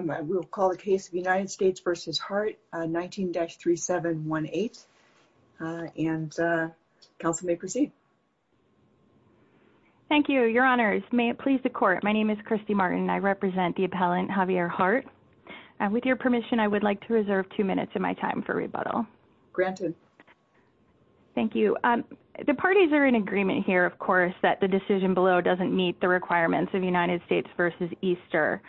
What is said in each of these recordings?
19-3718 and counsel may proceed. Thank you, your honors. May it please the court. My name is Christy Martin. I represent the appellant Javier Hart. With your permission, I would like to reserve two minutes of my time for rebuttal. Granted. Thank you. The parties are in agreement here, of course, that the decision below doesn't meet the requirements of United States v. Easter.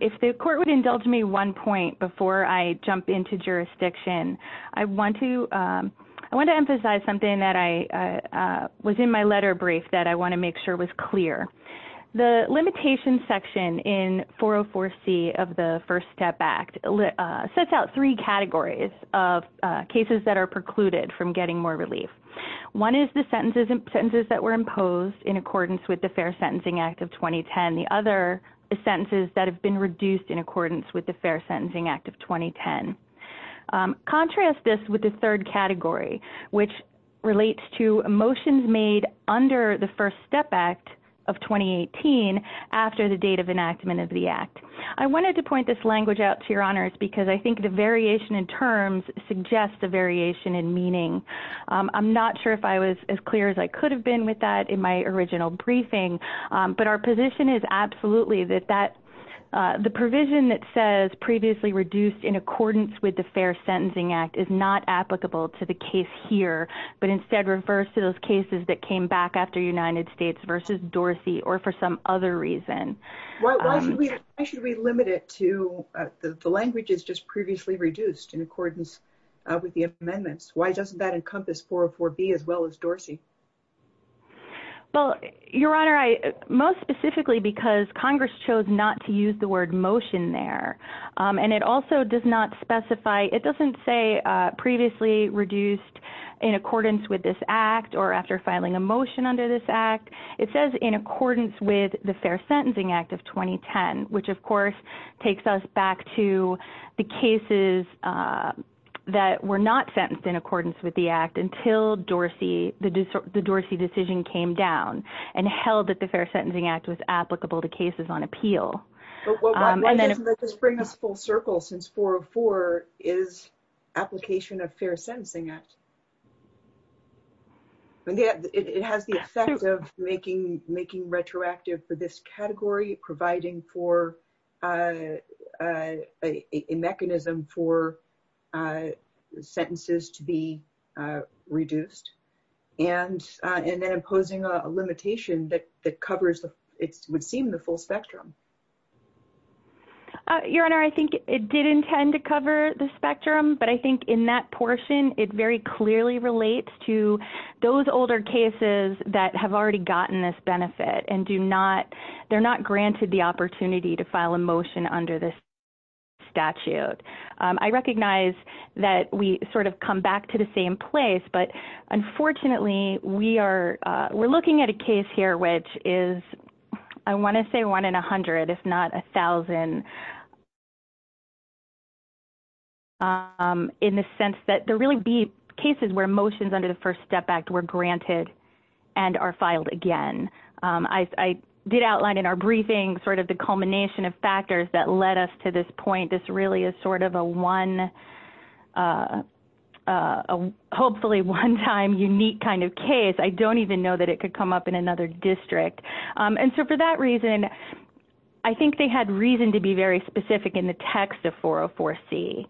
If the court would indulge me one point before I jump into jurisdiction, I want to emphasize something that was in my letter brief that I want to make sure was clear. The limitations section in 404C of the First Step Act sets out three categories of cases that are precluded from getting more relief. One is the sentences that were imposed in accordance with the Fair Sentencing Act of 2010. The other is sentences that have been reduced in accordance with the Fair Sentencing Act of 2010. Contrast this with the third category, which relates to motions made under the First Step Act of 2018 after the date of enactment of the act. I wanted to point this language out to your honors because I think the variation in terms suggests a variation in meaning. I'm not sure if I was as clear as I could have been with that in my original briefing. But our position is absolutely that the provision that says previously reduced in accordance with the Fair Sentencing Act is not applicable to the case here, but instead refers to those cases that came back after United States v. Dorsey or for some other reason. Why should we limit it to the language is just previously reduced in accordance with the amendments? Why doesn't that encompass 404B as well as Dorsey? Well, your honor, most specifically because Congress chose not to use the word motion there. It also does not specify, it doesn't say previously reduced in accordance with this act or after filing a motion under this act. It says in accordance with the Fair Sentencing Act of 2010, which of course takes us back to the cases that were not sentenced in accordance with the act until the Dorsey decision came down and held that the Fair Sentencing Act was applicable to cases on appeal. This brings us full circle since 404 is application of Fair Sentencing Act. It has the effect of making retroactive for this category, providing for a mechanism for sentences to be reduced and then imposing a limitation that covers, it would seem the full spectrum. Your honor, I think it did intend to cover the spectrum, but I think in that portion, it very clearly relates to those older cases that have already gotten this benefit and do not, they're not granted the opportunity to file a motion under this statute. I recognize that we sort of come back to the same place, but unfortunately we are, we're looking at a case here, which is, I want to say one in a hundred, if not a thousand. In the sense that there really be cases where motions under the First Step Act were granted and are filed again. I did outline in our briefing sort of the culmination of factors that led us to this point. This really is sort of a one, hopefully one time unique kind of case. I don't even know that it could come up in another district. And so for that reason, I think they had reason to be very specific in the text of 404C.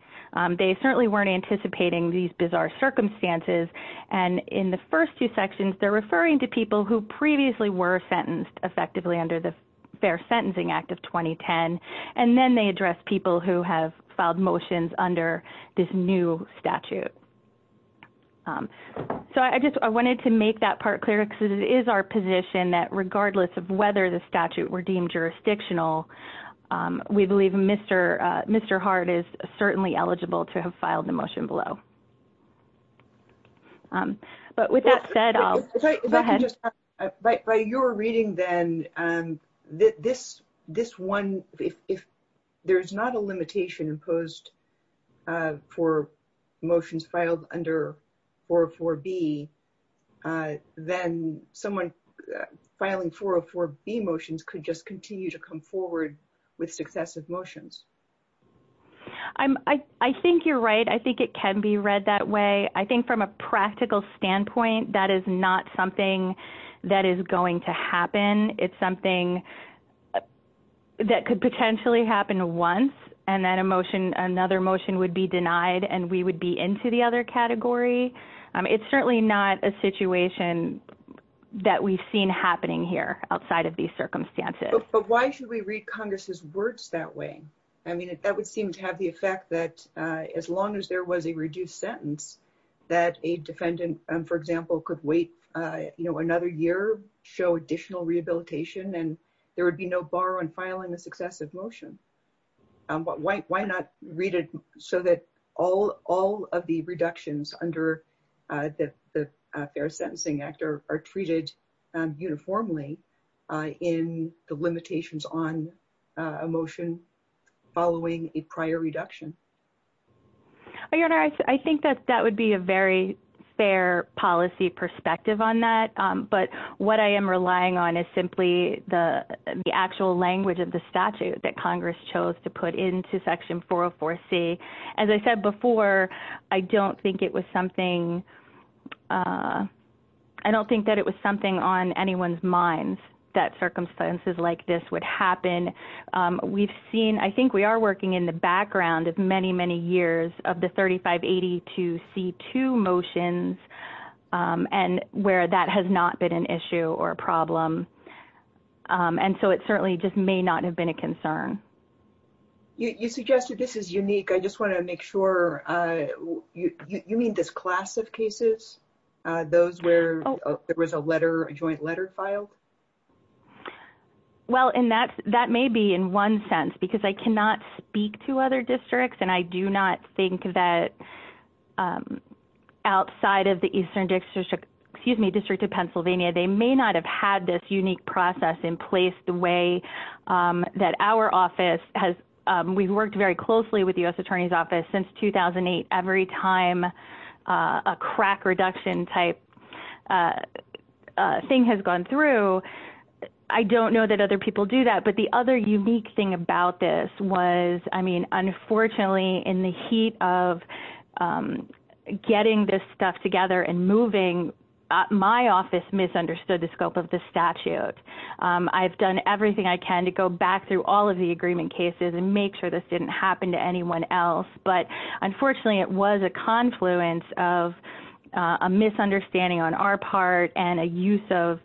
They certainly weren't anticipating these bizarre circumstances. And in the first two sections, they're referring to people who previously were sentenced effectively under the Fair Sentencing Act of 2010. And then they address people who have filed motions under this new statute. So I just, I wanted to make that part clear, because it is our position that regardless of whether the statute were deemed jurisdictional, we believe Mr. Hart is certainly eligible to have filed the motion below. But with that said, I'll go ahead. By your reading then, this one, if there's not a limitation imposed for motions filed under 404B, then someone filing 404B motions could just continue to come forward with successive motions. I think you're right. I think it can be read that way. I think from a practical standpoint, that is not something that is going to happen. It's something that could potentially happen once, and then another motion would be denied, and we would be into the other category. It's certainly not a situation that we've seen happening here outside of these circumstances. But why should we read Congress's words that way? I mean, that would seem to have the effect that as long as there was a reduced sentence, that a defendant, for example, could wait another year, show additional rehabilitation, and there would be no bar on filing a successive motion. Why not read it so that all of the reductions under the Fair Sentencing Act are treated uniformly in the limitations on a motion following a prior reduction? Your Honor, I think that that would be a very fair policy perspective on that. But what I am relying on is simply the actual language of the statute that Congress chose to put into Section 404C. As I said before, I don't think that it was something on anyone's minds that circumstances like this would happen. I think we are working in the background of many, many years of the 3582C2 motions and where that has not been an issue or a problem. And so it certainly just may not have been a concern. You suggested this is unique. I just want to make sure. You mean this class of cases, those where there was a joint letter filed? Well, that may be in one sense, because I cannot speak to other districts, and I do not think that outside of the Eastern District of Pennsylvania, they may not have had this unique process in place the way that our office has. We've worked very closely with the U.S. Attorney's Office since 2008. Every time a crack reduction type thing has gone through, I don't know that other people do that. But the other unique thing about this was, I mean, unfortunately, in the heat of getting this stuff together and moving, my office misunderstood the scope of the statute. I've done everything I can to go back through all of the agreement cases and make sure this didn't happen to anyone else. But unfortunately, it was a confluence of a misunderstanding on our part and a use of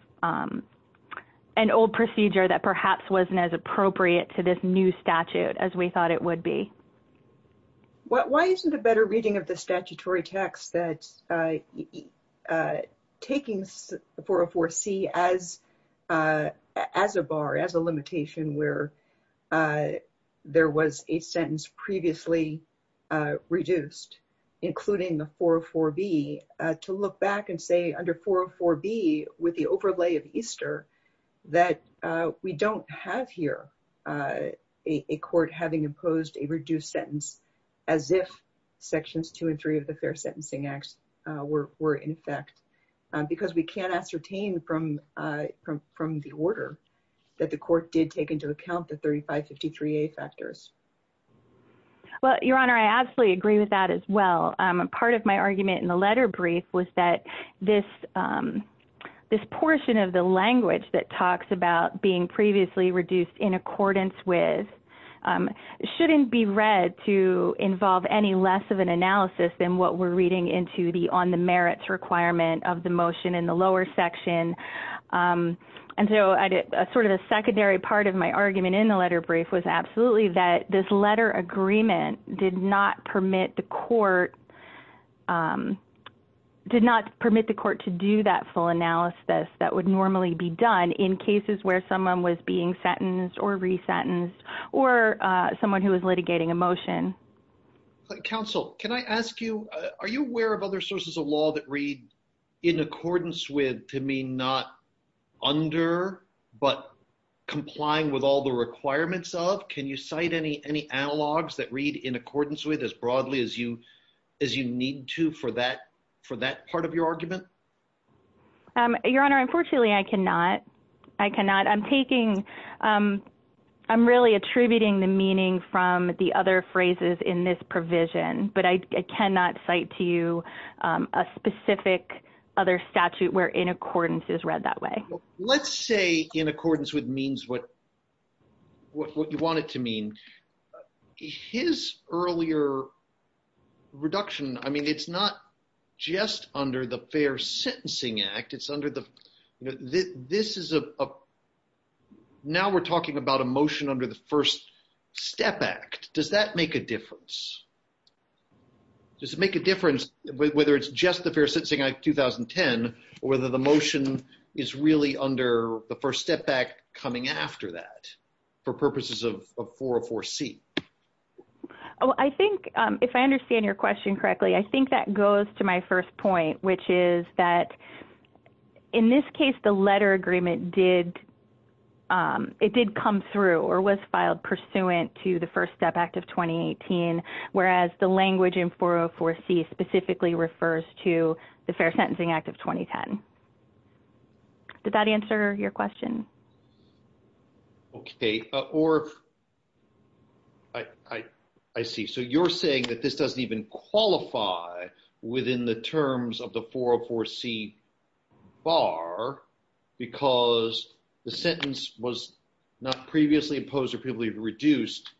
an old procedure that perhaps wasn't as appropriate to this new statute as we thought it would be. Why isn't a better reading of the statutory text that taking 404C as a bar, as a limitation where there was a sentence previously reduced, including the 404B, to look back and say, under 404B, with the overlay of Easter, that we don't have here a court having imposed a reduced sentence as if Sections 2 and 3 of the Fair Sentencing Act were in effect? Because we can't ascertain from the order that the court did take into account the 3553A factors. Well, Your Honor, I absolutely agree with that as well. Part of my argument in the letter brief was that this portion of the language that talks about being previously reduced in accordance with shouldn't be read to involve any less of an analysis than what we're reading into the on the merits requirement of the motion in the lower section. And so sort of a secondary part of my argument in the letter brief was absolutely that this letter agreement did not permit the court to do that full analysis that would normally be done in cases where someone was being sentenced or resentenced or someone who was litigating a motion. Counsel, can I ask you, are you aware of other sources of law that read in accordance with to mean not under, but complying with all the requirements of? Can you cite any analogs that read in accordance with as broadly as you need to for that part of your argument? Your Honor, unfortunately, I cannot. I cannot. I'm taking, I'm really attributing the meaning from the other phrases in this provision, but I cannot cite to you a specific other statute where in accordance is read that way. Let's say in accordance with means what you want it to mean. His earlier reduction, I mean, it's not just under the Fair Sentencing Act. It's under the, this is a, now we're talking about a motion under the First Step Act. Does that make a difference? Does it make a difference whether it's just the Fair Sentencing Act 2010 or whether the motion is really under the First Step Act coming after that for purposes of 404C? Oh, I think if I understand your question correctly, I think that goes to my first point, which is that in this case, the letter agreement did, it did come through or was filed pursuant to the First Step Act of 2018, whereas the language in 404C specifically refers to the Fair Sentencing Act of 2010. Did that answer your question? Okay, or I, I see. So you're saying that this doesn't even qualify within the terms of the 404C bar because the sentence was not previously imposed or previously reduced,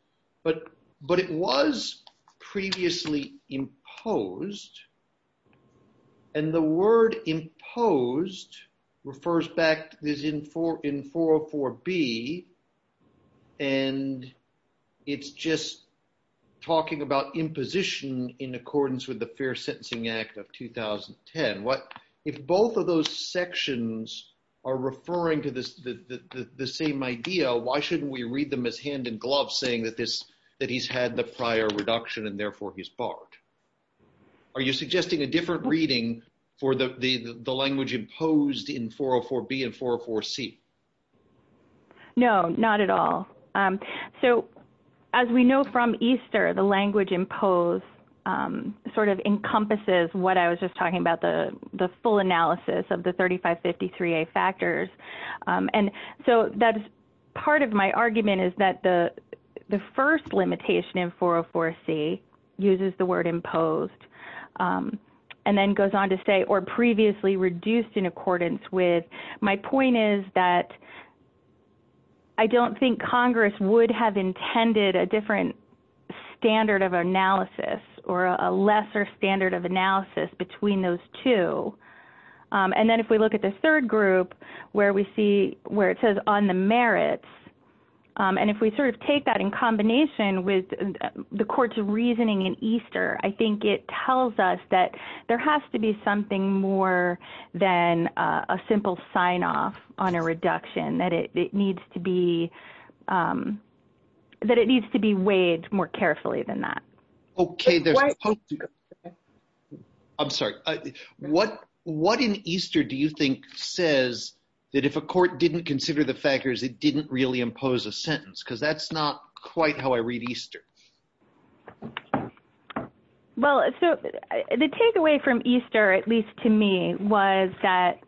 but, but it was previously imposed. And the word imposed refers back to this in 404B and it's just talking about imposition in accordance with the Fair Sentencing Act of 2010. What, if both of those sections are referring to this, the same idea, why shouldn't we read them as hand in glove saying that this, that he's had the prior reduction and therefore he's barred? Are you suggesting a different reading for the, the, the language imposed in 404B and 404C? No, not at all. So as we know from EASTER, the language imposed sort of encompasses what I was just talking about, the, the full analysis of the 3553A factors. And so that's part of my argument is that the, the first limitation in 404C uses the word imposed and then goes on to say, or previously reduced in accordance with. My point is that I don't think Congress would have intended a different standard of analysis or a lesser standard of analysis between those two. And then if we look at the third group where we see where it says on the merits, and if we sort of take that in combination with the court's reasoning in EASTER, I think it tells us that there has to be something more than a simple sign off on a reduction, that it needs to be, that it needs to be weighed more carefully than that. Okay. I'm sorry. What, what in EASTER do you think says that if a court didn't consider the factors, it didn't really impose a sentence? Because that's not quite how I read EASTER. Well, so the takeaway from EASTER, at least to me, was that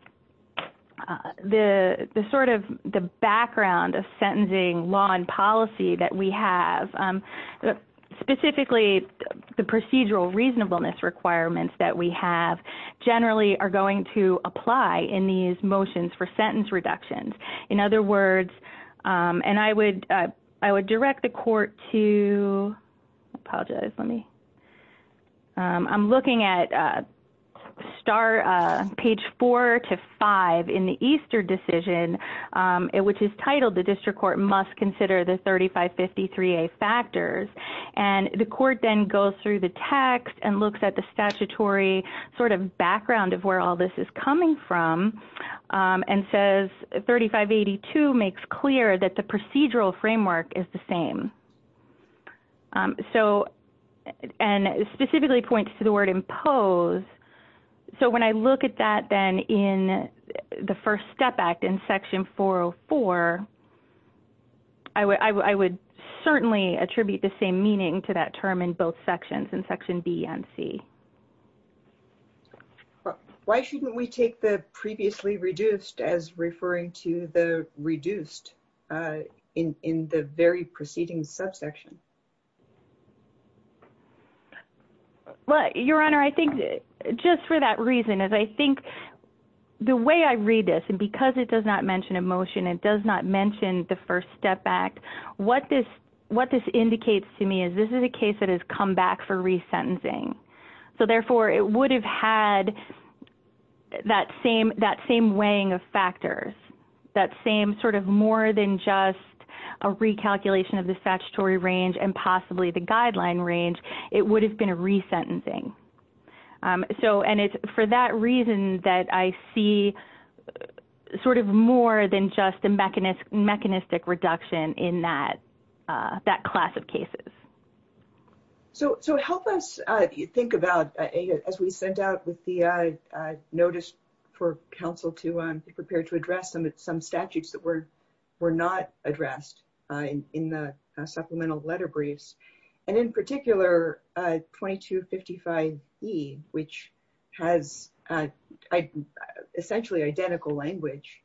the sort of the background of sentencing law and policy that we have, specifically the procedural reasonableness requirements that we have, generally are going to apply in these motions for sentence reductions. In other words, and I would, I would direct the court to apologize, let me I'm looking at star, page four to five in the EASTER decision, which is titled the district court must consider the 3553A factors, and the court then goes through the text and looks at the statutory sort of background of where all this is coming from, and says 3582 makes clear that the procedural framework is the same. So, and specifically points to the word impose. So when I look at that then in the first step act in section 404, I would certainly attribute the same meaning to that term in both sections, in section B and C. Why shouldn't we take the previously reduced as referring to the reduced in in the very preceding subsection? Well, Your Honor, I think just for that reason, as I think the way I read this, and because it does not mention a motion, it does not mention the first step act, what this, what this indicates to me is this is a case that has come back for resentencing. So therefore, it would have had that same, that same weighing of factors, that same sort of more than just a recalculation of the statutory range and possibly the guideline range, it would have been a resentencing. So, and it's for that reason that I see sort of more than just a mechanistic reduction in that, that class of cases. So help us think about, as we sent out with the notice for counsel to prepare to address some statutes that were not addressed in the supplemental letter briefs, and in particular 2255E, which has essentially identical language,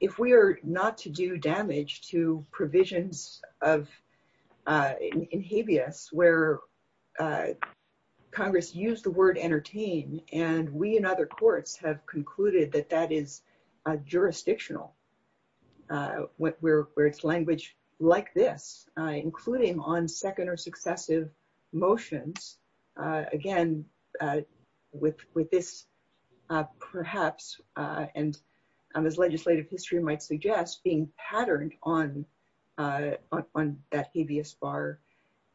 if we are not to do damage to provisions of in habeas where Congress used the word entertain and we and other courts have concluded that that is jurisdictional, where it's language like this, including on second or successive motions, again, with this perhaps, and as legislative history might suggest, being patterned on that habeas bar.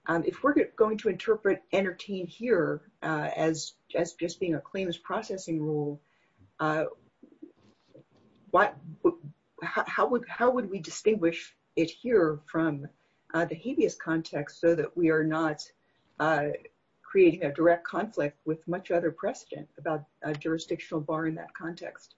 If we're going to interpret entertain here as just being a claim as processing rule, what, how would, how would we distinguish it here from the habeas context so that we are not creating a direct conflict with much other precedent about a jurisdictional bar in that context?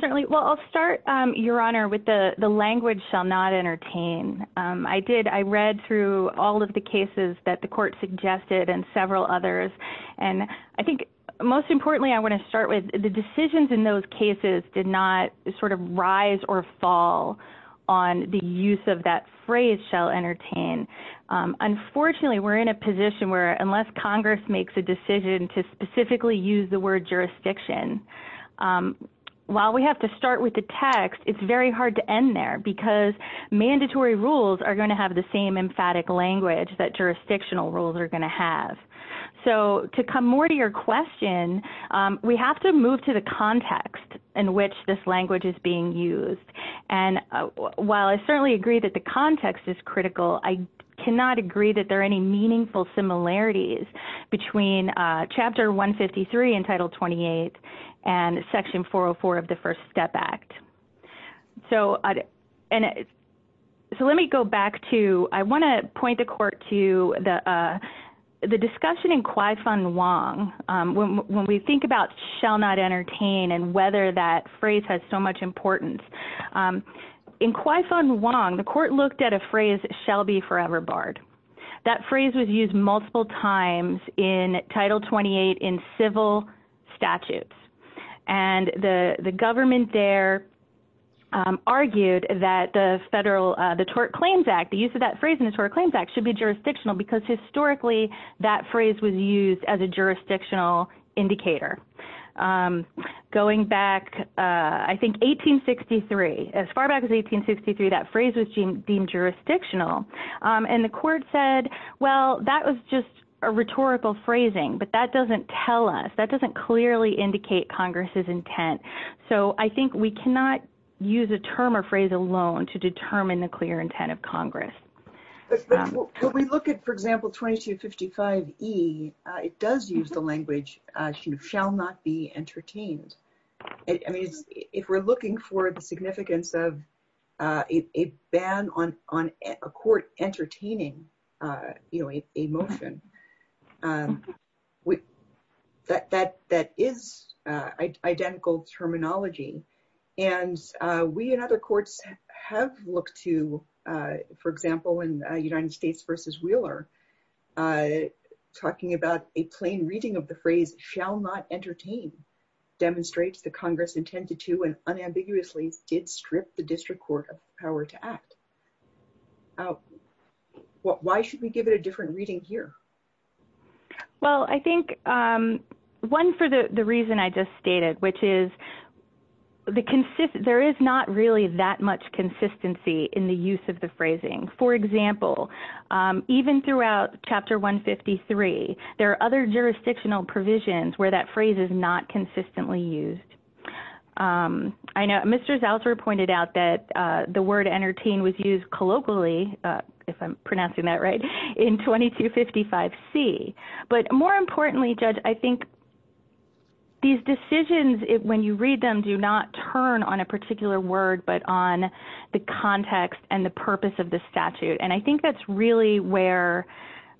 Certainly. Well, I'll start, Your Honor, with the language shall not entertain. I did, I read through all of the cases that the court suggested and several others. And I think most importantly, I want to start with the decisions in those cases did not sort of rise or fall on the use of that phrase shall entertain. Unfortunately, we're in a position where unless Congress makes a decision to specifically use the word jurisdiction, while we have to start with the text, it's very hard to end there because mandatory rules are going to have the same emphatic language that jurisdictional rules are going to have. So to come more to your question, we have to move to the context in which this language is being used. And while I certainly agree that the context is critical, I cannot agree that there are any meaningful similarities between Chapter 153 in Title 28 and Section 404 of the First Step Act. So let me go back to, I want to point the court to the discussion in Kwai Fun Wong. When we think about shall not entertain and whether that phrase has so much importance. In Kwai Fun Wong, the court looked at a phrase shall be forever barred. That phrase was used multiple times in Title 28 in civil statutes. And the government there argued that the federal, the Tort Claims Act, the use of that phrase in the Tort Claims Act should be jurisdictional because historically that phrase was used as a jurisdictional indicator. Going back, I think, 1863, as far back as 1863, that phrase was deemed jurisdictional. And the court said, well, that was just a rhetorical phrasing, but that doesn't tell us, that doesn't clearly indicate Congress's intent. So I think we cannot use a term or phrase alone to determine the clear intent of Congress. When we look at, for example, 2255E, it does use the language shall not be entertained. I mean, if we're looking for the significance of a ban on a court entertaining a motion, that is identical terminology. And we and other courts have looked to, for example, in United States v. Wheeler, talking about a plain reading of the phrase shall not entertain demonstrates the Congress intended to and unambiguously did strip the district court of power to act. Why should we give it a different reading here? Well, I think one for the reason I just stated, which is there is not really that much consistency in the use of the phrasing. For example, even throughout Chapter 153, there are other jurisdictional provisions where that phrase is not consistently used. I know Mr. Zelser pointed out that the word entertain was used colloquially, if I'm pronouncing that right, in 2255C. But more importantly, Judge, I think these decisions, when you read them, do not turn on a particular word, but on the context and the purpose of the statute. And I think that's really where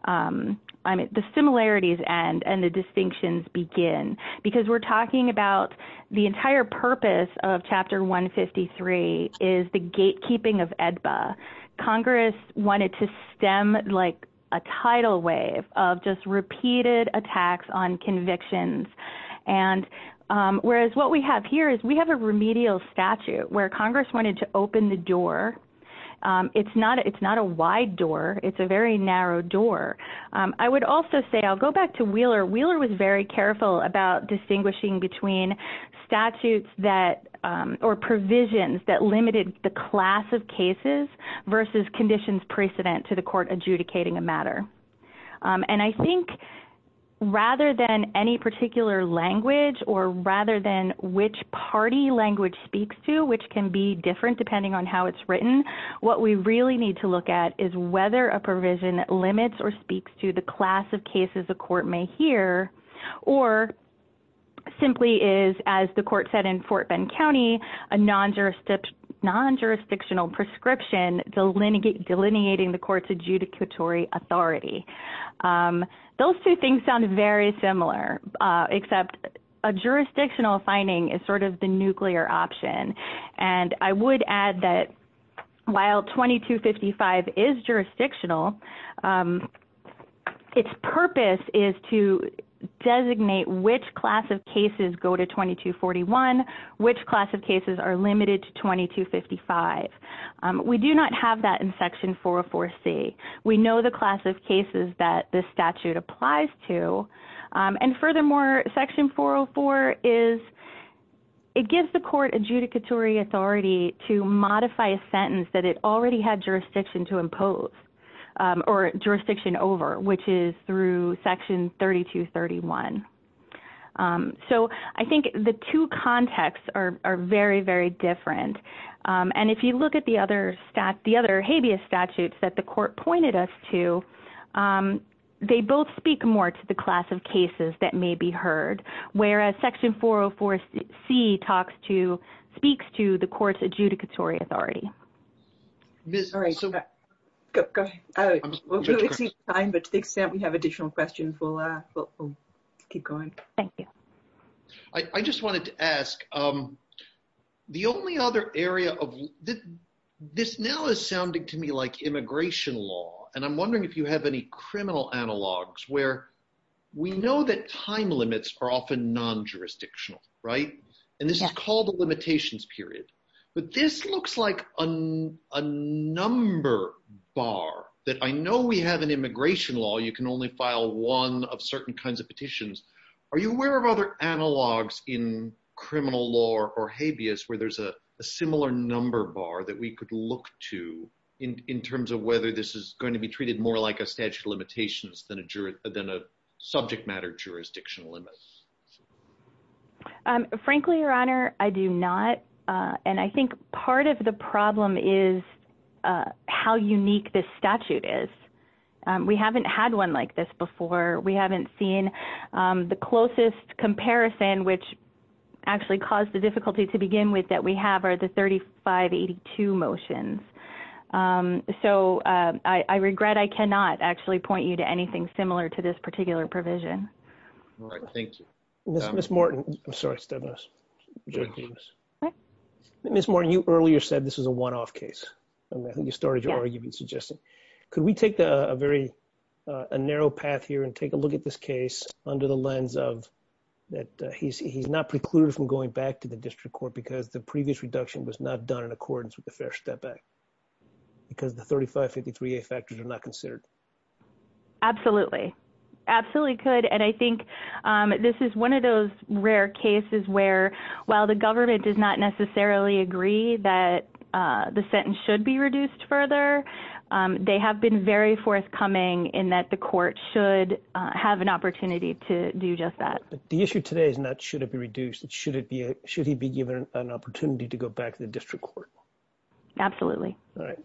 the similarities end and the distinctions begin. Because we're talking about the entire purpose of Chapter 153 is the gatekeeping of AEDPA. Congress wanted to stem like a tidal wave of just repeated attacks on convictions. And whereas what we have here is we have a remedial statute where Congress wanted to open the door. It's not a wide door. It's a very narrow door. I would also say, I'll go back to Wheeler. Wheeler was very careful about distinguishing between statutes or provisions that limited the class of cases versus conditions precedent to the court adjudicating a matter. And I think rather than any particular language or rather than which party language speaks to, which can be different depending on how it's written, what we really need to look at is whether a provision limits or speaks to the class of cases the court may hear, or simply is, as the court said in Fort Bend County, a non-jurisdictional prescription delineating the court's adjudicatory authority. Those two things sound very similar, except a jurisdictional finding is sort of the nuclear option. And I would add that while 2255 is jurisdictional, its purpose is to designate which class of cases go to 2241, which class of cases are limited to 2255. We do not have that in Section 404C. We know the class of cases that this statute applies to. And furthermore, Section 404 gives the court adjudicatory authority to modify a sentence that it already had jurisdiction to impose or jurisdiction over, which is through Section 3231. So I think the two contexts are very, very different. And if you look at the other habeas statutes that the court pointed us to, they both speak more to the class of cases that may be heard, whereas Section 404C speaks to the court's adjudicatory authority. All right. Go ahead. We'll exceed time, but to the extent we have additional questions, we'll keep going. Thank you. I just wanted to ask, the only other area of – this now is sounding to me like immigration law. And I'm wondering if you have any criminal analogs where we know that time limits are often non-jurisdictional, right? And this is called a limitations period. But this looks like a number bar that I know we have in immigration law. You can only file one of certain kinds of petitions. Are you aware of other analogs in criminal law or habeas where there's a similar number bar that we could look to in terms of whether this is going to be treated more like a statute of limitations than a subject matter jurisdiction limit? Frankly, Your Honor, I do not. And I think part of the problem is how unique this statute is. We haven't had one like this before. We haven't seen the closest comparison, which actually caused the difficulty to begin with, that we have are the 3582 motions. So I regret I cannot actually point you to anything similar to this particular provision. All right. Thank you. Ms. Morton – I'm sorry, Steven. Ms. Morton, you earlier said this was a one-off case. I think you started your argument suggesting. Could we take a very – a narrow path here and take a look at this case under the lens of that he's not precluded from going back to the district court because the previous reduction was not done in accordance with the fair step back because the 3553A factors are not considered? Absolutely. Absolutely could. And I think this is one of those rare cases where, while the government does not necessarily agree that the sentence should be reduced further, they have been very forthcoming in that the court should have an opportunity to do just that. The issue today is not should it be reduced. It's should he be given an opportunity to go back to the district court. Absolutely. All right.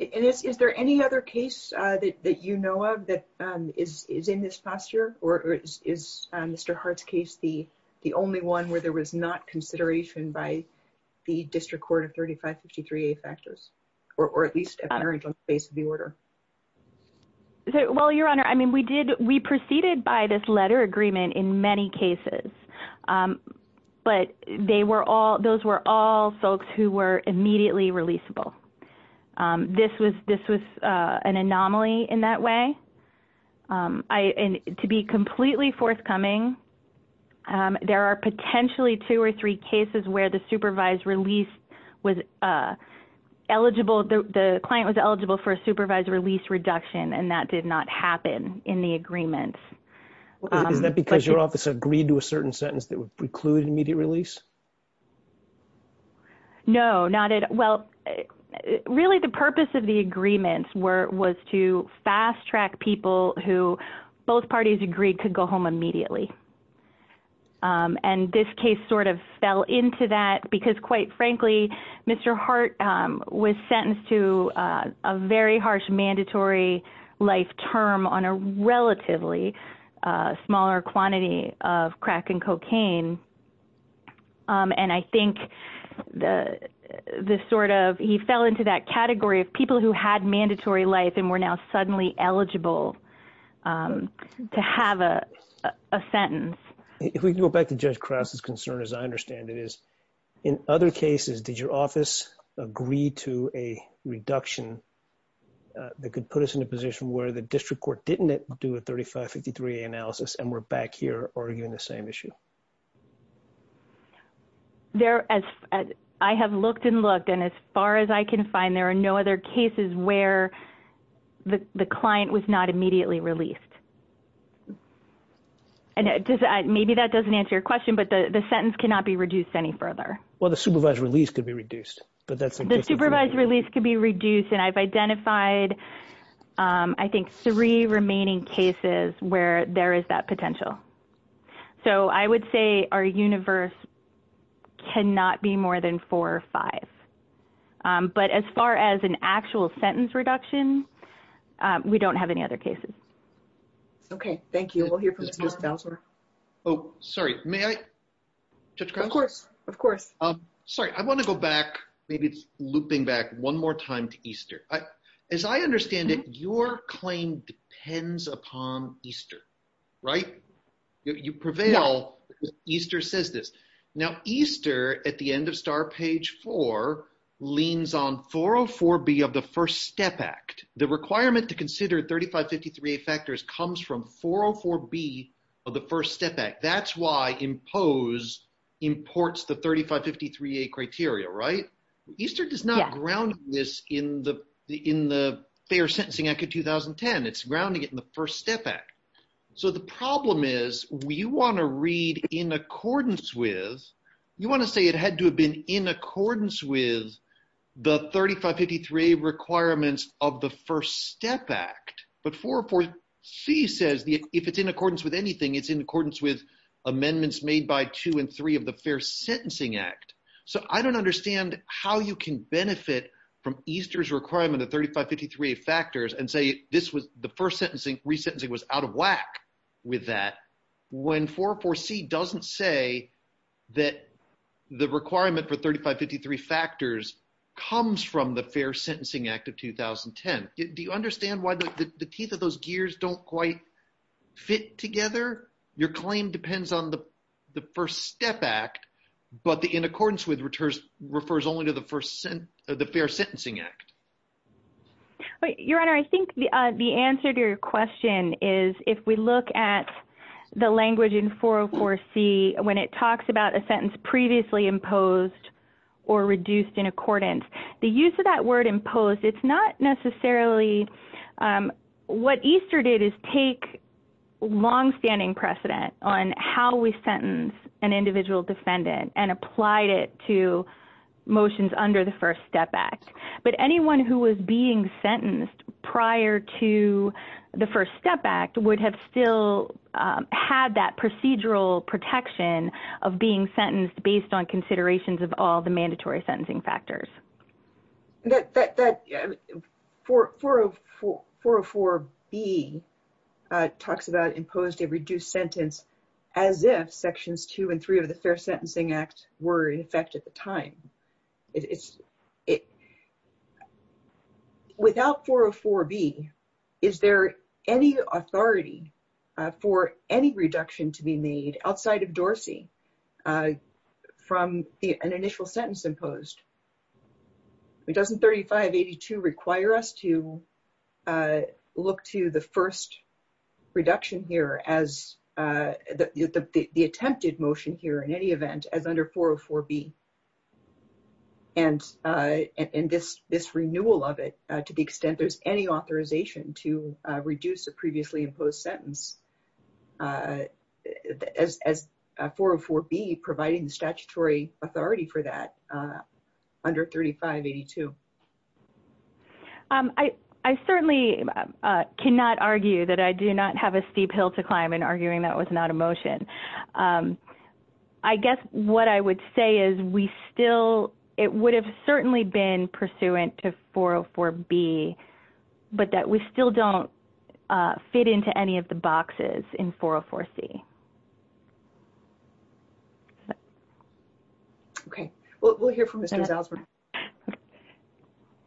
And is there any other case that you know of that is in this posture? Or is Mr. Hart's case the only one where there was not consideration by the district court of 3553A factors? Or at least apparent on the basis of the order? Well, Your Honor, I mean, we proceeded by this letter agreement in many cases. But those were all folks who were immediately releasable. This was an anomaly in that way. And to be completely forthcoming, there are potentially two or three cases where the supervised release was eligible, the client was eligible for a supervised release reduction, and that did not happen in the agreement. Is that because your office agreed to a certain sentence that would preclude immediate release? No, not at well. Really, the purpose of the agreements were was to fast track people who both parties agreed could go home immediately. And this case sort of fell into that because, quite frankly, Mr. Hart was sentenced to a very harsh mandatory life term on a relatively smaller quantity of crack and cocaine. And I think the sort of he fell into that category of people who had mandatory life and were now suddenly eligible to have a sentence. If we can go back to Judge Krause's concern, as I understand it, is in other cases, did your office agree to a reduction that could put us in a position where the district court didn't do a 3553A analysis and we're back here arguing the same issue? I have looked and looked, and as far as I can find, there are no other cases where the client was not immediately released. And maybe that doesn't answer your question, but the sentence cannot be reduced any further. Well, the supervised release could be reduced, but that's the supervised release could be reduced. And I've identified, I think, three remaining cases where there is that potential. So I would say our universe cannot be more than four or five. But as far as an actual sentence reduction, we don't have any other cases. Okay. Thank you. We'll hear from Judge Bowser. Oh, sorry. May I? Of course. Of course. Sorry. I want to go back. Maybe it's looping back one more time to Easter. As I understand it, your claim depends upon Easter, right? You prevail. Easter says this. Now, Easter, at the end of Star Page 4, leans on 404B of the First Step Act. The requirement to consider 3553A factors comes from 404B of the First Step Act. That's why IMPOSE imports the 3553A criteria, right? Easter does not ground this in the Fair Sentencing Act of 2010. It's grounding it in the First Step Act. So the problem is you want to read in accordance with – you want to say it had to have been in accordance with the 3553A requirements of the First Step Act. But 404C says if it's in accordance with anything, it's in accordance with amendments made by two and three of the Fair Sentencing Act. So I don't understand how you can benefit from Easter's requirement of 3553A factors and say this was – the first sentencing – resentencing was out of whack with that when 404C doesn't say that the requirement for 3553 factors comes from the Fair Sentencing Act of 2010. Do you understand why the teeth of those gears don't quite fit together? Your claim depends on the First Step Act, but the in accordance with refers only to the First – the Fair Sentencing Act. Your Honor, I think the answer to your question is if we look at the language in 404C when it talks about a sentence previously imposed or reduced in accordance, the use of that word imposed, it's not necessarily – what Easter did is take longstanding precedent on how we sentence an individual defendant and applied it to motions under the First Step Act. But anyone who was being sentenced prior to the First Step Act would have still had that procedural protection of being sentenced based on considerations of all the mandatory sentencing factors. That – 404B talks about imposed or reduced sentence as if sections two and three of the Fair Sentencing Act were in effect at the time. Without 404B, is there any authority for any reduction to be made outside of Dorsey from an initial sentence imposed? Doesn't 3582 require us to look to the first reduction here as – the attempted motion here in any event as under 404B? And this renewal of it, to the extent there's any authorization to reduce a previously imposed sentence, as 404B providing the statutory authority for that under 3582? I certainly cannot argue that I do not have a steep hill to climb in arguing that was not a motion. I guess what I would say is we still – it would have certainly been pursuant to 404B, but that we still don't fit into any of the boxes in 404C. Okay. We'll hear from Mr. Zalzburn.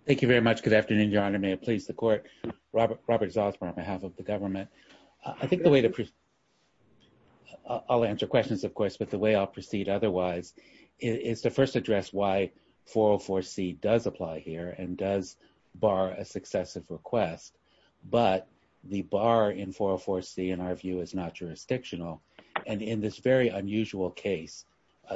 Thank you very much. Good afternoon, Your Honor. May it please the Court? Robert Zalzburn on behalf of the government. I think the way to – I'll answer questions, of course, but the way I'll proceed otherwise is to first address why 404C does apply here and does bar a successive request. But the bar in 404C, in our view, is not jurisdictional. And in this very unusual case,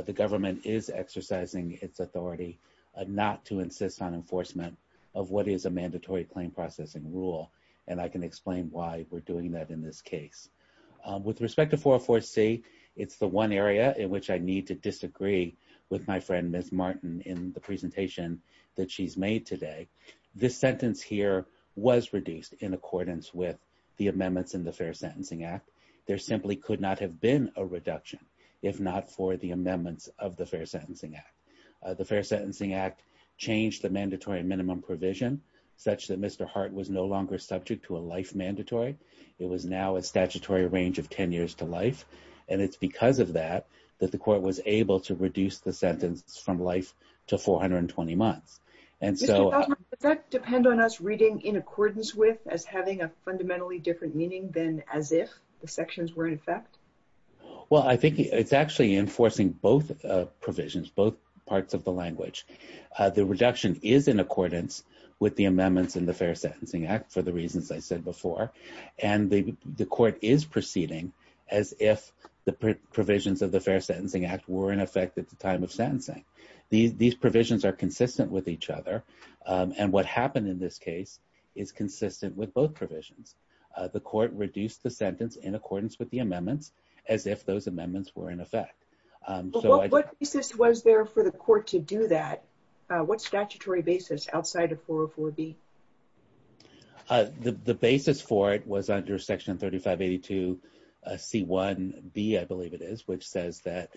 the government is exercising its authority not to insist on enforcement of what is a mandatory claim processing rule. And I can explain why we're doing that in this case. With respect to 404C, it's the one area in which I need to disagree with my friend, Ms. Martin, in the presentation that she's made today. This sentence here was reduced in accordance with the amendments in the Fair Sentencing Act. There simply could not have been a reduction if not for the amendments of the Fair Sentencing Act. The Fair Sentencing Act changed the mandatory minimum provision such that Mr. Hart was no longer subject to a life mandatory. It was now a statutory range of 10 years to life. And it's because of that that the court was able to reduce the sentence from life to 420 months. Mr. Zalzburn, does that depend on us reading in accordance with as having a fundamentally different meaning than as if the sections were in effect? Well, I think it's actually enforcing both provisions, both parts of the language. The reduction is in accordance with the amendments in the Fair Sentencing Act for the reasons I said before. And the court is proceeding as if the provisions of the Fair Sentencing Act were in effect at the time of sentencing. These provisions are consistent with each other. And what happened in this case is consistent with both provisions. The court reduced the sentence in accordance with the amendments as if those amendments were in effect. What basis was there for the court to do that? What statutory basis outside of 404B? The basis for it was under Section 3582C1B, I believe it is, which says that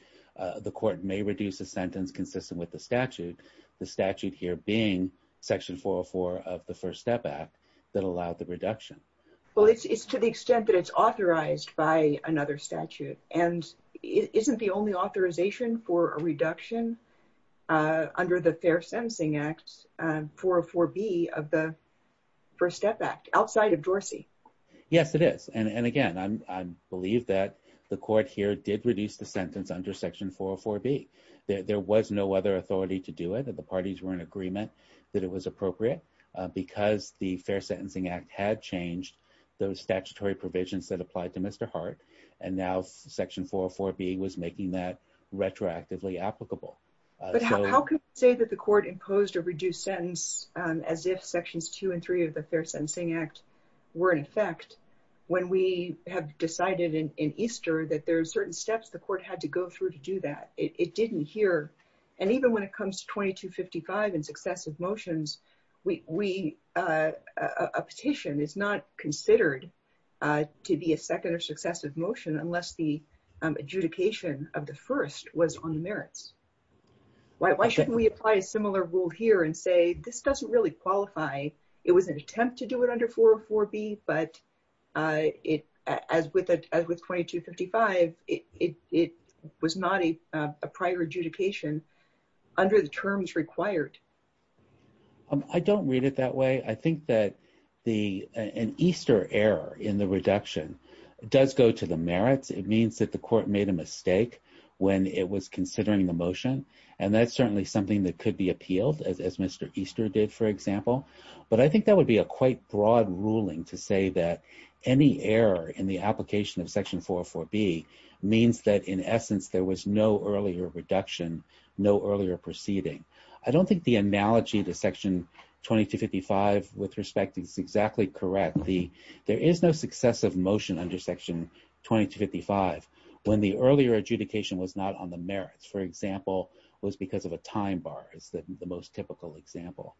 the court may reduce a sentence consistent with the statute, the statute here being Section 404 of the First Step Act that allowed the reduction. Well, it's to the extent that it's authorized by another statute. And isn't the only authorization for a reduction under the Fair Sentencing Act 404B of the First Step Act outside of Dorsey? Yes, it is. And, again, I believe that the court here did reduce the sentence under Section 404B. There was no other authority to do it. The parties were in agreement that it was appropriate because the Fair Sentencing Act had changed those statutory provisions that applied to Mr. Hart, and now Section 404B was making that retroactively applicable. But how can we say that the court imposed a reduced sentence as if Sections 2 and 3 of the Fair Sentencing Act were in effect when we have decided in Easter that there are certain steps the court had to go through to do that? It didn't here. And even when it comes to 2255 and successive motions, a petition is not considered to be a second or successive motion unless the adjudication of the first was on the merits. Why shouldn't we apply a similar rule here and say this doesn't really qualify? It was an attempt to do it under 404B, but as with 2255, it was not a prior adjudication under the terms required. I don't read it that way. I think that an Easter error in the reduction does go to the merits. It means that the court made a mistake when it was considering the motion, and that's certainly something that could be appealed, as Mr. Easter did, for example. But I think that would be a quite broad ruling to say that any error in the application of section 404B means that, in essence, there was no earlier reduction, no earlier proceeding. I don't think the analogy to section 2255 with respect is exactly correct. There is no successive motion under section 2255 when the earlier adjudication was not on the merits, for example, was because of a time bar is the most typical example.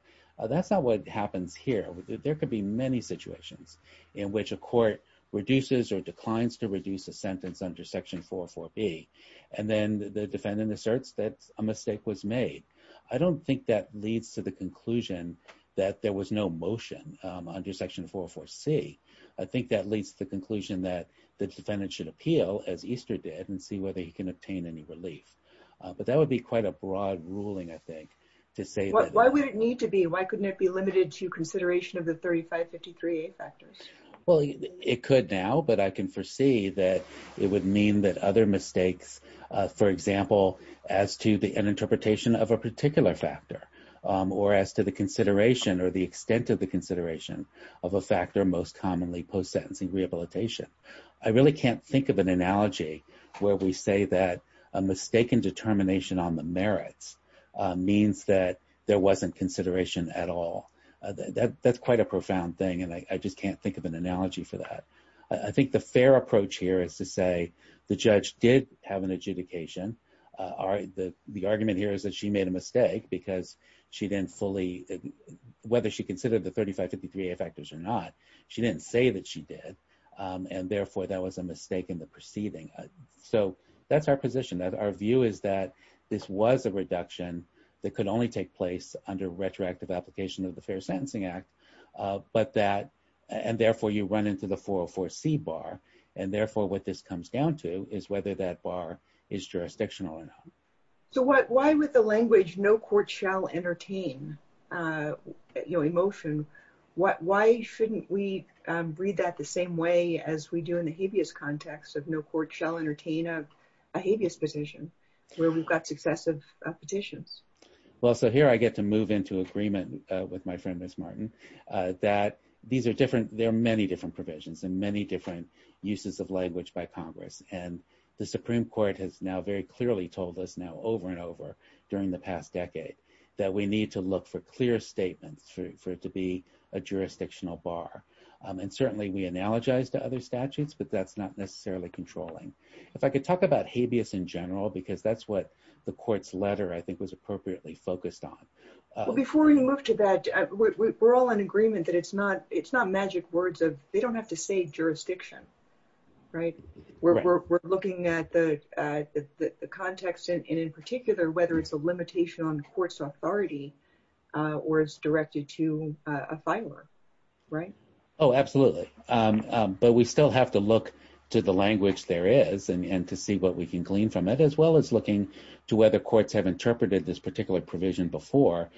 That's not what happens here. There could be many situations in which a court reduces or declines to reduce a sentence under section 404B, and then the defendant asserts that a mistake was made. I don't think that leads to the conclusion that there was no motion under section 404C. I think that leads to the conclusion that the defendant should appeal, as Easter did, and see whether he can obtain any relief. But that would be quite a broad ruling, I think, to say that. Why would it need to be? Why couldn't it be limited to consideration of the 3553A factors? Well, it could now, but I can foresee that it would mean that other mistakes, for example, as to an interpretation of a particular factor or as to the consideration or the extent of the consideration of a factor most commonly post-sentencing rehabilitation. I really can't think of an analogy where we say that a mistake in determination on the merits means that there wasn't consideration at all. That's quite a profound thing, and I just can't think of an analogy for that. I think the fair approach here is to say the judge did have an adjudication. The argument here is that she made a mistake because she didn't fully – whether she considered the 3553A factors or not, she didn't say that she did, and therefore that was a mistake in the proceeding. So that's our position. Our view is that this was a reduction that could only take place under retroactive application of the Fair Sentencing Act, and therefore you run into the 404C bar, and therefore what this comes down to is whether that bar is jurisdictional or not. So why would the language, no court shall entertain emotion, why shouldn't we read that the same way as we do in the habeas context of no court shall entertain a habeas petition, where we've got successive petitions? Well, so here I get to move into agreement with my friend Ms. Martin that there are many different provisions and many different uses of language by Congress, and the Supreme Court has now very clearly told us now over and over during the past decade that we need to look for clear statements for it to be a jurisdictional bar. And certainly we analogize to other statutes, but that's not necessarily controlling. If I could talk about habeas in general, because that's what the court's letter I think was appropriately focused on. Before we move to that, we're all in agreement that it's not magic words. They don't have to say jurisdiction, right? We're looking at the context, and in particular, whether it's a limitation on the court's authority or is directed to a filer, right? Oh, absolutely. But we still have to look to the language there is and to see what we can glean from it, as well as looking to whether courts have interpreted this particular provision before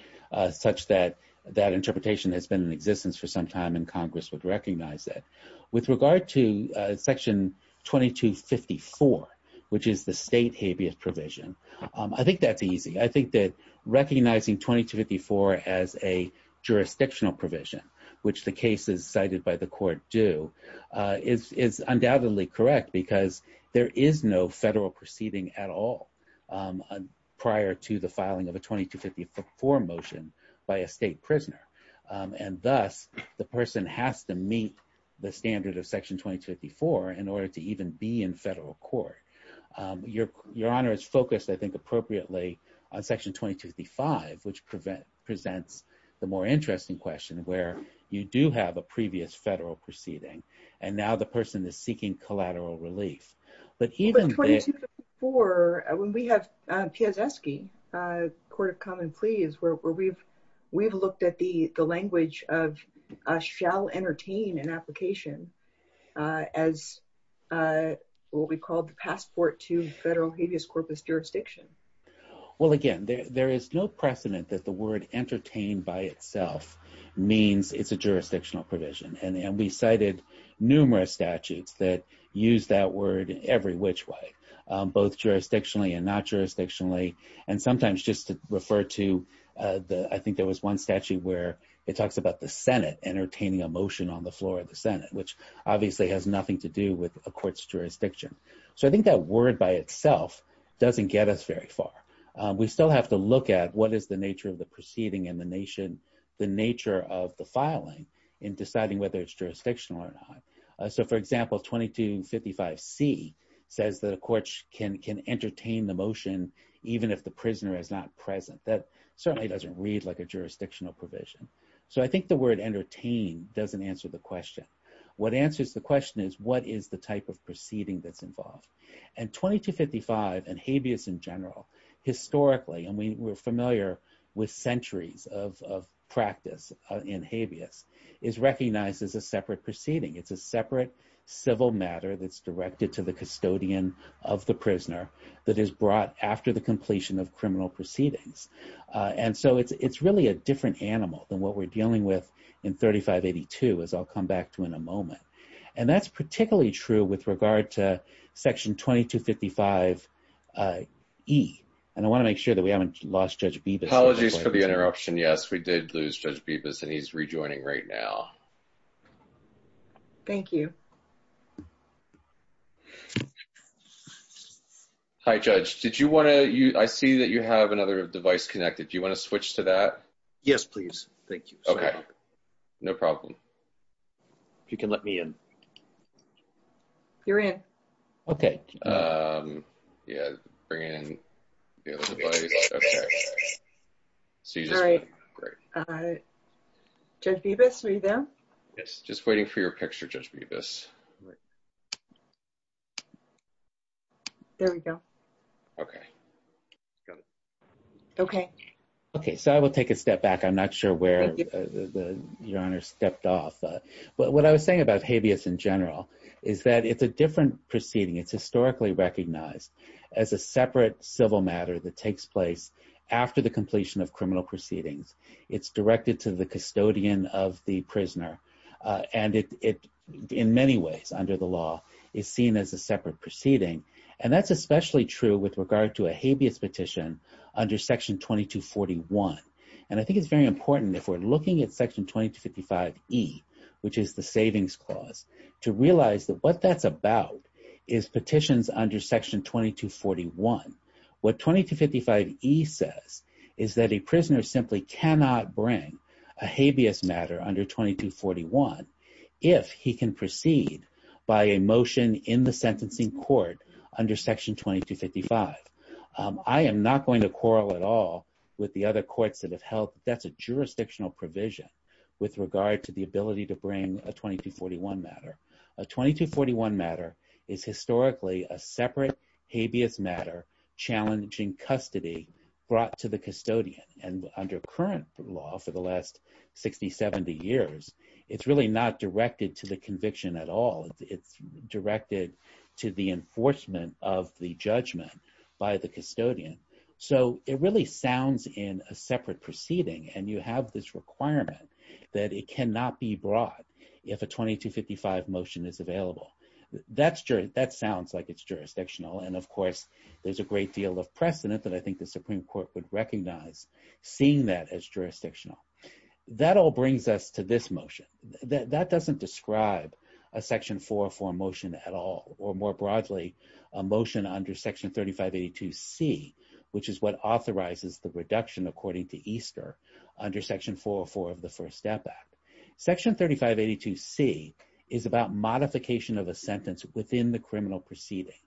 such that that interpretation has been in existence for some time and Congress would recognize it. With regard to Section 2254, which is the state habeas provision, I think that's easy. I think that recognizing 2254 as a jurisdictional provision, which the cases cited by the court do, is undoubtedly correct because there is no federal proceeding at all prior to the filing of a 2254 motion by a state prisoner. And thus, the person has to meet the standard of Section 2254 in order to even be in federal court. Your Honor is focused, I think, appropriately on Section 2255, which presents the more interesting question where you do have a previous federal proceeding, and now the person is seeking collateral relief. But 2254, when we have Piazeski, Court of Common Pleas, where we've looked at the language of shall entertain an application as what we call the passport to federal habeas corpus jurisdiction. Well, again, there is no precedent that the word entertain by itself means it's a jurisdictional provision. And we cited numerous statutes that use that word in every which way, both jurisdictionally and not jurisdictionally, and sometimes just to refer to, I think there was one statute where it talks about the Senate entertaining a motion on the floor of the Senate, which obviously has nothing to do with a court's jurisdiction. So I think that word by itself doesn't get us very far. We still have to look at what is the nature of the proceeding and the nature of the filing in deciding whether it's jurisdictional or not. So for example, 2255C says that a court can entertain the motion even if the prisoner is not present. That certainly doesn't read like a jurisdictional provision. So I think the word entertain doesn't answer the question. What answers the question is what is the type of proceeding that's involved? And 2255 and habeas in general, historically, and we're familiar with centuries of practice in habeas, is recognized as a separate proceeding. It's a separate civil matter that's directed to the custodian of the prisoner that is brought after the completion of criminal proceedings. And so it's really a different animal than what we're dealing with in 3582, as I'll come back to in a moment. And that's particularly true with regard to section 2255E. And I want to make sure that we haven't lost Judge Bibas. Apologies for the interruption. Yes, we did lose Judge Bibas, and he's rejoining right now. Thank you. Hi, Judge. I see that you have another device connected. Do you want to switch to that? Yes, please. Thank you. Okay. No problem. If you can let me in. You're in. Okay. Judge Bibas, are you there? Yes, just waiting for your picture, Judge Bibas. There we go. Okay. Okay. Okay, so I will take a step back. I'm not sure where Your Honor stepped off. But what I was saying about habeas in general is that it's a different proceeding. It's historically recognized as a separate civil matter that takes place after the completion of criminal proceedings. It's directed to the custodian of the prisoner. And in many ways, under the law, it's seen as a separate proceeding. And that's especially true with regard to a habeas petition under Section 2241. And I think it's very important if we're looking at Section 2255E, which is the Savings Clause, to realize that what that's about is petitions under Section 2241. What 2255E says is that a prisoner simply cannot bring a habeas matter under 2241 if he can proceed by a motion in the sentencing court under Section 2255. I am not going to quarrel at all with the other courts that have held that's a jurisdictional provision with regard to the ability to bring a 2241 matter. A 2241 matter is historically a separate habeas matter challenging custody brought to the custodian. And under current law for the last 60, 70 years, it's really not directed to the conviction at all. It's directed to the enforcement of the judgment by the custodian. So it really sounds in a separate proceeding and you have this requirement that it cannot be brought if a 2255 motion is available. That sounds like it's jurisdictional. And of course there's a great deal of precedent that I think the Supreme Court would recognize seeing that as jurisdictional. That all brings us to this motion. That doesn't describe a Section 404 motion at all, or more broadly a motion under Section 3582C, which is what authorizes the reduction according to Easter under Section 404 of the First Step Act. Section 3582C is about modification of a sentence within the criminal proceeding.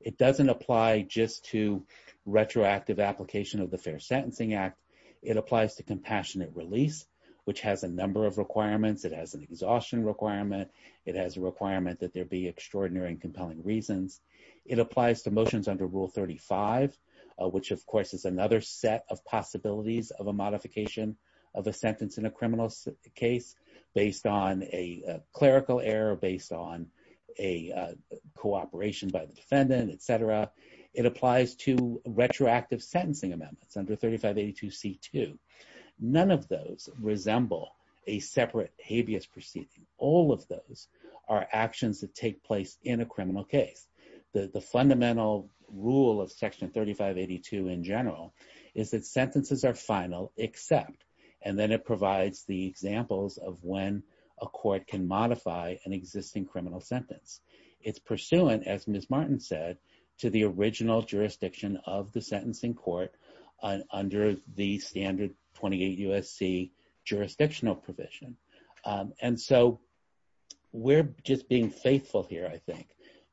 It doesn't apply just to retroactive application of the Fair Sentencing Act. It applies to compassionate release, which has a number of requirements. It has an exhaustion requirement. It has a requirement that there be extraordinary and compelling reasons. It applies to motions under Rule 35, which of course is another set of possibilities of a modification of a sentence in a criminal case based on a clerical error, based on a cooperation by the defendant, et cetera. It applies to retroactive sentencing amendments under 3582C2. None of those resemble a separate habeas proceeding. All of those are actions that take place in a criminal case. The fundamental rule of Section 3582 in general is that sentences are final except, and then it provides the examples of when a court can modify an existing criminal sentence. It's pursuant, as Ms. Martin said, to the original jurisdiction of the sentencing court under the standard 28 USC jurisdictional provision. And so we're just being faithful here, I think,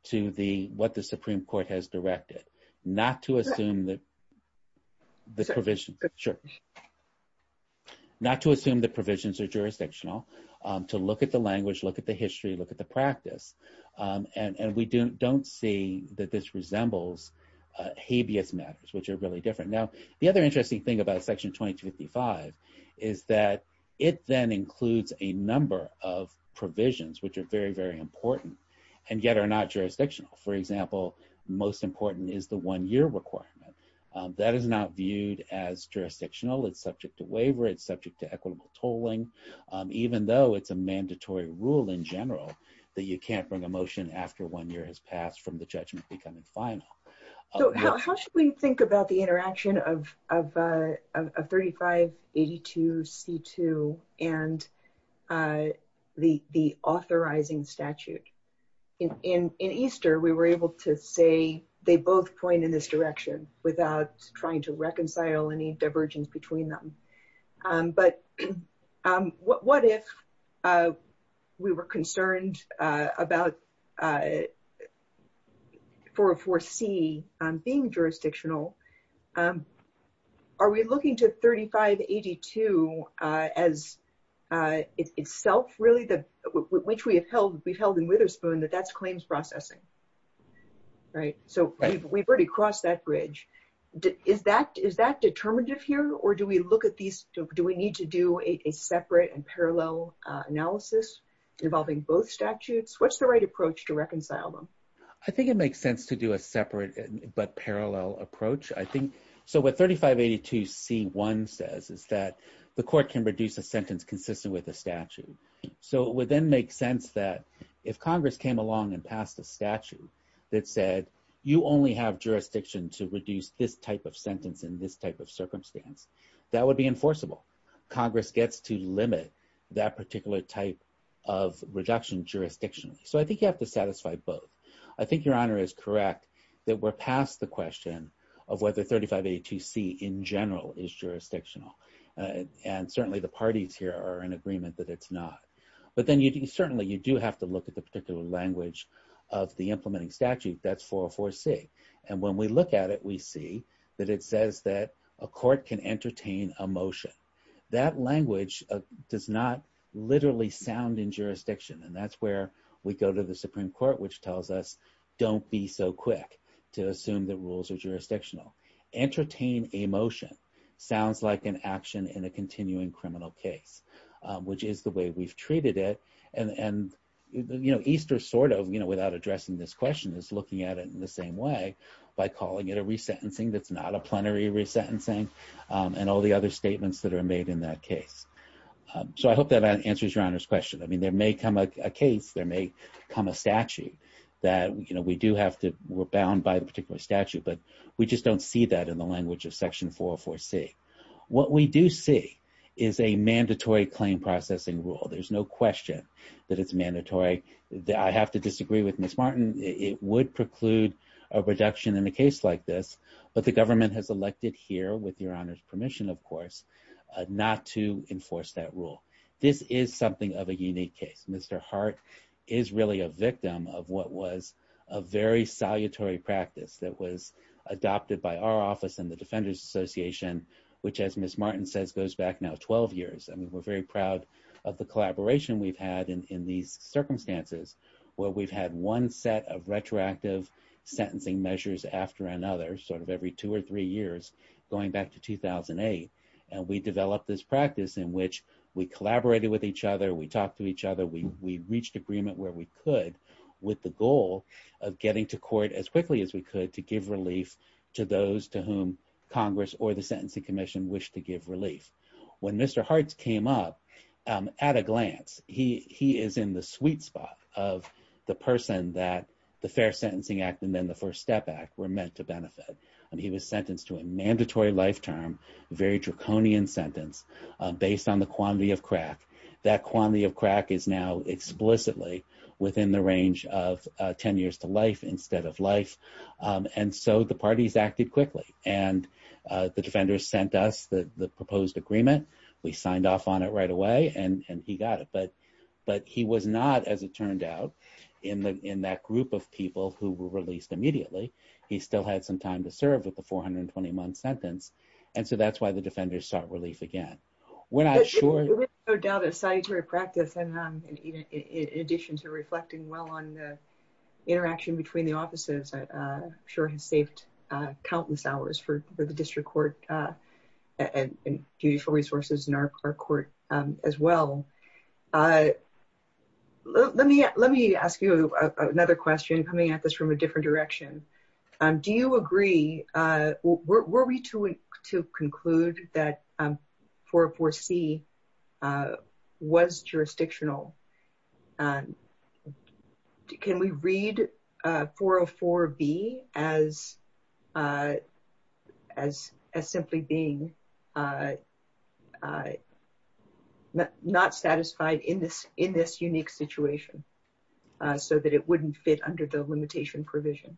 to what the Supreme Court has directed, not to assume that the provisions are jurisdictional, to look at the language, look at the history, look at the practice. And we don't see that this resembles habeas matters, which are really different. Now the other interesting thing about Section 2255 is that it then includes a number of provisions, which are very, very important and yet are not jurisdictional. For example, most important is the one year requirement. That is not viewed as jurisdictional. It's subject to waiver. It's subject to equitable tolling, to be able to bring a motion after one year has passed from the judgment becoming final. So how should we think about the interaction of, of, of, of 35. 82 C2 and. The, the authorizing statute. In, in, in Easter, we were able to say, they both point in this direction without trying to reconcile any divergence between them. But. So. What, what if. We were concerned about. For a four C being jurisdictional. Are we looking to 35 82? As. It's itself really the, which we have held, we've held in Witherspoon that that's claims processing. And that was only a version of the prior law. Right. Right. So we've already crossed that bridge. Is that, is that determinative here? Or do we look at these? Do we need to do a separate and parallel analysis involving both statutes? What's the right approach to reconcile them? I think it makes sense to do a separate but parallel approach. I think. So what 35 82 C one says is that the court can reduce a sentence consistent with the statute. So within make sense that if Congress came along and passed a statute. That said, you only have jurisdiction to reduce this type of sentence in this type of circumstance. That would be enforceable Congress gets to limit that particular type. Of reduction jurisdiction. So I think you have to satisfy both. I think your honor is correct. That we're past the question of whether 35 82 C in general is jurisdictional. And certainly the parties here are in agreement that it's not, but then you can certainly, you do have to look at the particular language of the implementing statute. That's 404 C. And when we look at it, we see that it says that a court can entertain a motion. That language does not literally sound in jurisdiction. And that's where we go to the Supreme court, which tells us, don't be so quick to assume that rules are jurisdictional. Entertain a motion. Sounds like an action in a continuing criminal case, which is the way we've treated it. And, and. You know, Easter sort of, you know, without addressing this question is looking at it in the same way. By calling it a resentencing. That's not a plenary resentencing. And all the other statements that are made in that case. So I hope that answers your honors question. I mean, there may come a case there may come a statute. That, you know, we do have to, we're bound by a particular statute, but we just don't see that in the language of section 404 C. What we do see is a mandatory claim processing rule. There's no question that it's mandatory that I have to disagree with Ms. Martin. It would preclude. A reduction in a case like this, but the government has elected here with your honors permission, of course, not to enforce that rule. And so I hope that answers your question. And I'm going to turn it over to Mr. Hart. This is something of a unique case. Mr. Hart. Is really a victim of what was a very salutary practice that was adopted by our office and the defenders association, which was to have a retrospective sentencing measure. And so we've had a very, very strong partnership with the defense association. Which as Ms. Martin says, goes back now 12 years. I mean, we're very proud of the collaboration we've had in, in these circumstances. Well, we've had one set of retroactive sentencing measures after another sort of every two or three years. Going back to 2008. And we developed this practice in which we collaborated with each other. We talked to each other. We reached agreement where we could with the goal of getting to court as quickly as we could, to give relief to those to whom Congress or the sentencing commission wish to give relief. When Mr. Hart's came up at a glance, he, he is in the sweet spot of the person that the fair sentencing act. And then the first step back were meant to benefit. And he was sentenced to a mandatory life term, very draconian sentence based on the quantity of crack. That quantity of crack is now explicitly within the range of 10 years to life instead of life. And so the parties acted quickly. And the defenders sent us the proposed agreement. We signed off on it right away and he got it, but, but he was not, as it turned out in the, in that group of people who were released immediately, he still had some time to serve with the 421 sentence. And so that's why the defenders start relief again. I'm not sure. I doubt it. Practicing. In addition to reflecting well on the. Interaction between the offices. Sure. Countless hours for the district court. And beautiful resources in our court as well. Let me, let me ask you another question, coming at this from a different direction. Do you agree? Yeah, I agree. So, so the, the, the. Were we to, to conclude that. For, for C. Was jurisdictional. Can we read four or four B as. As as simply being. Not satisfied in this, in this unique situation. So that it wouldn't fit under the limitation provision.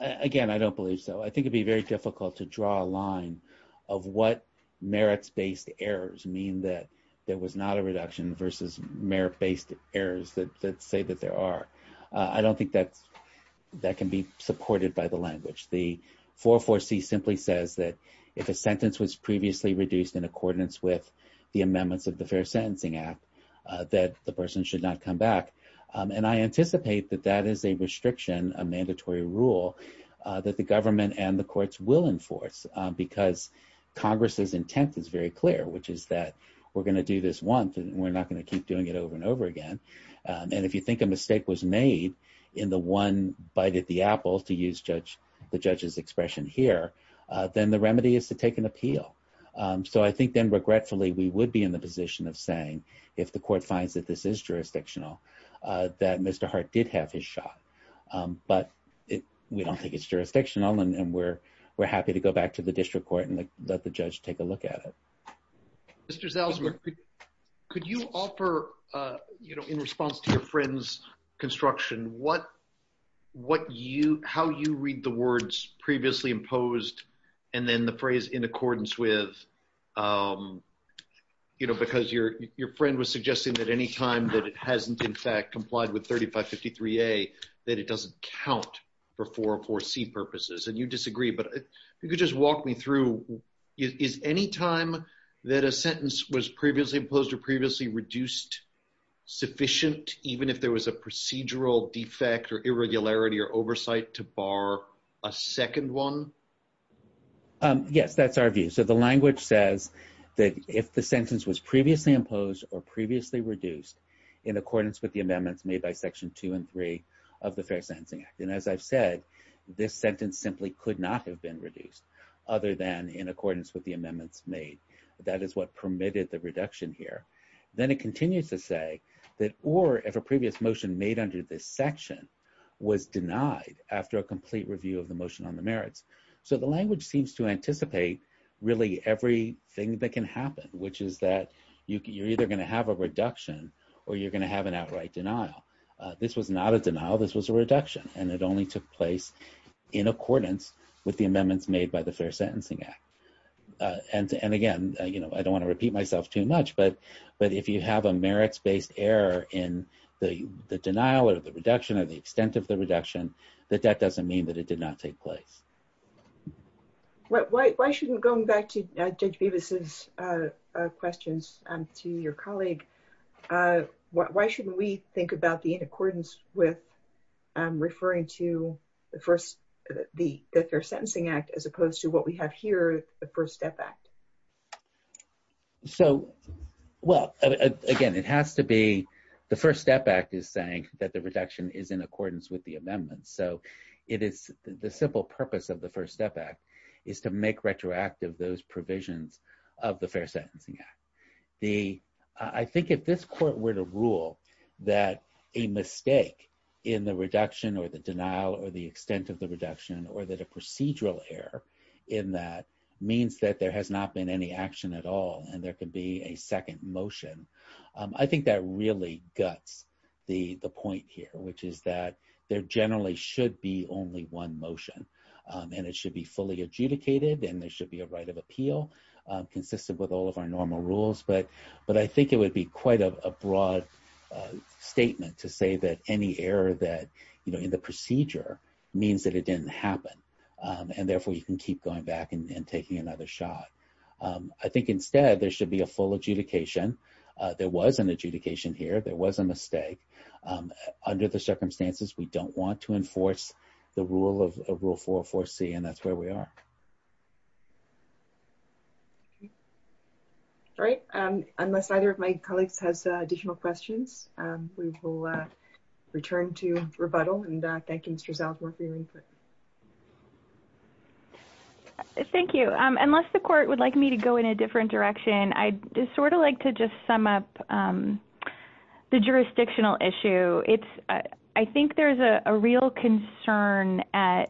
Again, I don't believe so. I think it'd be very difficult to draw a line of what merits based errors mean that there was not a reduction versus merit based errors that say that there are. I don't think that's that can be supported by the language. The four, four C simply says that if a sentence was previously reduced in accordance with the amendments of the fair sentencing app. That the person should not come back. And I anticipate that that is a restriction a mandatory rule that the government and the courts will enforce because Congress's intent is very clear, which is that we're going to do this one. And we're not going to keep doing it over and over again. And if you think a mistake was made in the one bite at the apple to use judge, the judges expression here, then the remedy is to take an appeal. So I think then regretfully we would be in the position of saying, if the court finds that this is jurisdictional that Mr heart did have his shot. But we don't think it's jurisdictional and we're, we're happy to go back to the district court and let the judge take a look at it. Mr salesman. Could you offer, you know, in response to your friends construction, what, what you how you read the words previously imposed, and then the phrase in accordance with, you know, because your, your friend was suggesting that anytime that it hasn't in fact complied with 3553 a that it doesn't count for for for C purposes and you disagree but you could just walk me through is any time that a sentence was previously imposed or previously reduced sufficient, even if there was a procedural defect or irregularity or oversight to bar, a second one. Yes, that's our view. So the language says that if the sentence was previously imposed or previously reduced in accordance with the amendments made by section two and three of the Fair Sensing Act. And as I've said, this sentence simply could not have been reduced, other than in accordance with the amendments made. That is what permitted the reduction here. Then it continues to say that or if a previous motion made under this section was denied after a complete review of the motion on the merits. So the language seems to anticipate really everything that can happen, which is that you can you're either going to have a reduction, or you're going to have an outright denial. This was not a denial this was a reduction, and it only took place in accordance with the amendments made by the Fair Sentencing Act. And again, you know, I don't want to repeat myself too much but but if you have a merits based error in the denial or the reduction of the extent of the reduction that that doesn't mean that it did not take place. Why shouldn't going back to Judge Beavis's questions to your colleague. Why shouldn't we think about the in accordance with referring to the first, the Fair Sentencing Act, as opposed to what we have here, the First Step Act. So, well, again, it has to be the First Step Act is saying that the reduction is in accordance with the amendments. So it is the simple purpose of the First Step Act is to make retroactive those provisions of the Fair Sentencing Act. I think if this court were to rule that a mistake in the reduction or the denial or the extent of the reduction or that a procedural error in that means that there has not been any action at all, and there can be a second motion. I think that really guts the point here, which is that there generally should be only one motion and it should be fully adjudicated and there should be a right of appeal. Consistent with all of our normal rules but but I think it would be quite a broad statement to say that any error that you know in the procedure means that it didn't happen. And therefore, you can keep going back and taking another shot. I think instead there should be a full adjudication. There was an adjudication here, there was a mistake. Under the circumstances, we don't want to enforce the rule of Rule 404C and that's where we are. All right, unless either of my colleagues has additional questions, we will return to rebuttal and thank you Mr. Salzberg for your input. Thank you. Unless the court would like me to go in a different direction, I just sort of like to just sum up the jurisdictional issue. I think there's a real concern at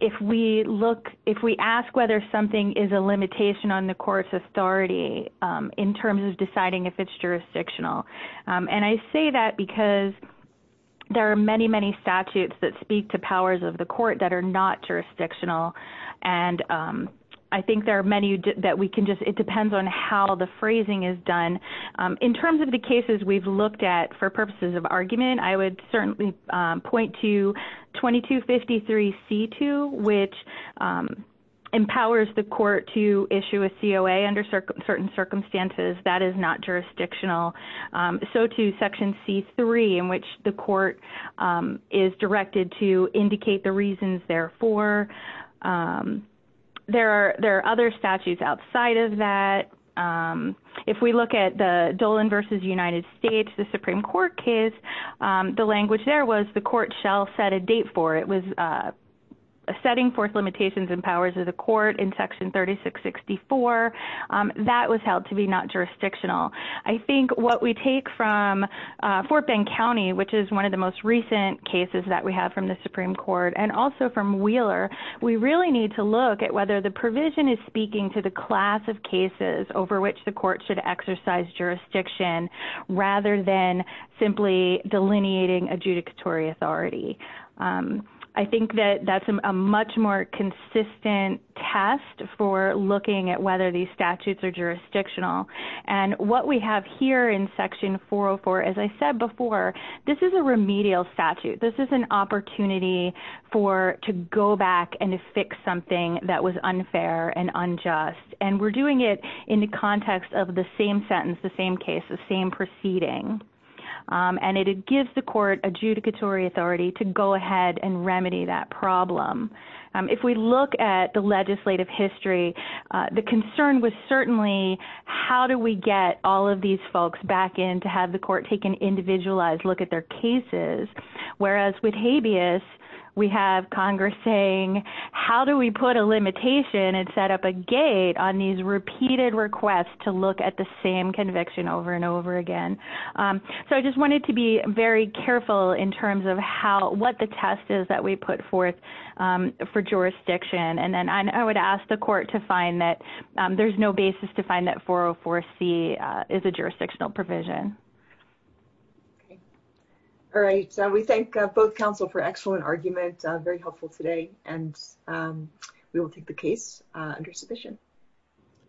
if we look, if we ask whether something is a limitation on the court's authority in terms of deciding if it's jurisdictional. And I say that because there are many, many statutes that speak to powers of the court that are not jurisdictional. And I think there are many that we can just, it depends on how the phrasing is done. In terms of the cases we've looked at for purposes of argument, I would certainly point to 2253C2, which the court is directed to indicate the reasons there for. There are other statutes outside of that. If we look at the Dolan v. United States, the Supreme Court case, the language there was the court shall set a date for it. It was setting forth limitations and powers of the court in Section 3664. That was held to be not jurisdictional. I think what we take from Fort Bend County, which is one of the most recent cases that we have from the Supreme Court and also from Wheeler, we really need to look at whether the provision is speaking to the class of cases over which the court should exercise jurisdiction, rather than simply delineating adjudicatory authority. I think that that's a much more consistent test for looking at whether these statutes are jurisdictional. And what we have here in Section 404, as I said before, this is a remedial statute. This is an opportunity to go back and fix something that was unfair and unjust. And we're doing it in the context of the same sentence, the same case, the same proceeding. And it gives the court adjudicatory authority to go ahead and remedy that problem. If we look at the legislative history, the concern was certainly, how do we get all of these folks back in to have the court take an individualized look at their cases? Whereas with habeas, we have Congress saying, how do we put a limitation and set up a gate on these repeated requests to look at the same conviction over and over again? So I just wanted to be very careful in terms of what the test is that we put forth for jurisdiction. And I would ask the court to find that there's no basis to find that 404C is a jurisdictional provision. All right. So we thank both counsel for excellent argument. Very helpful today. And we will take the case under submission.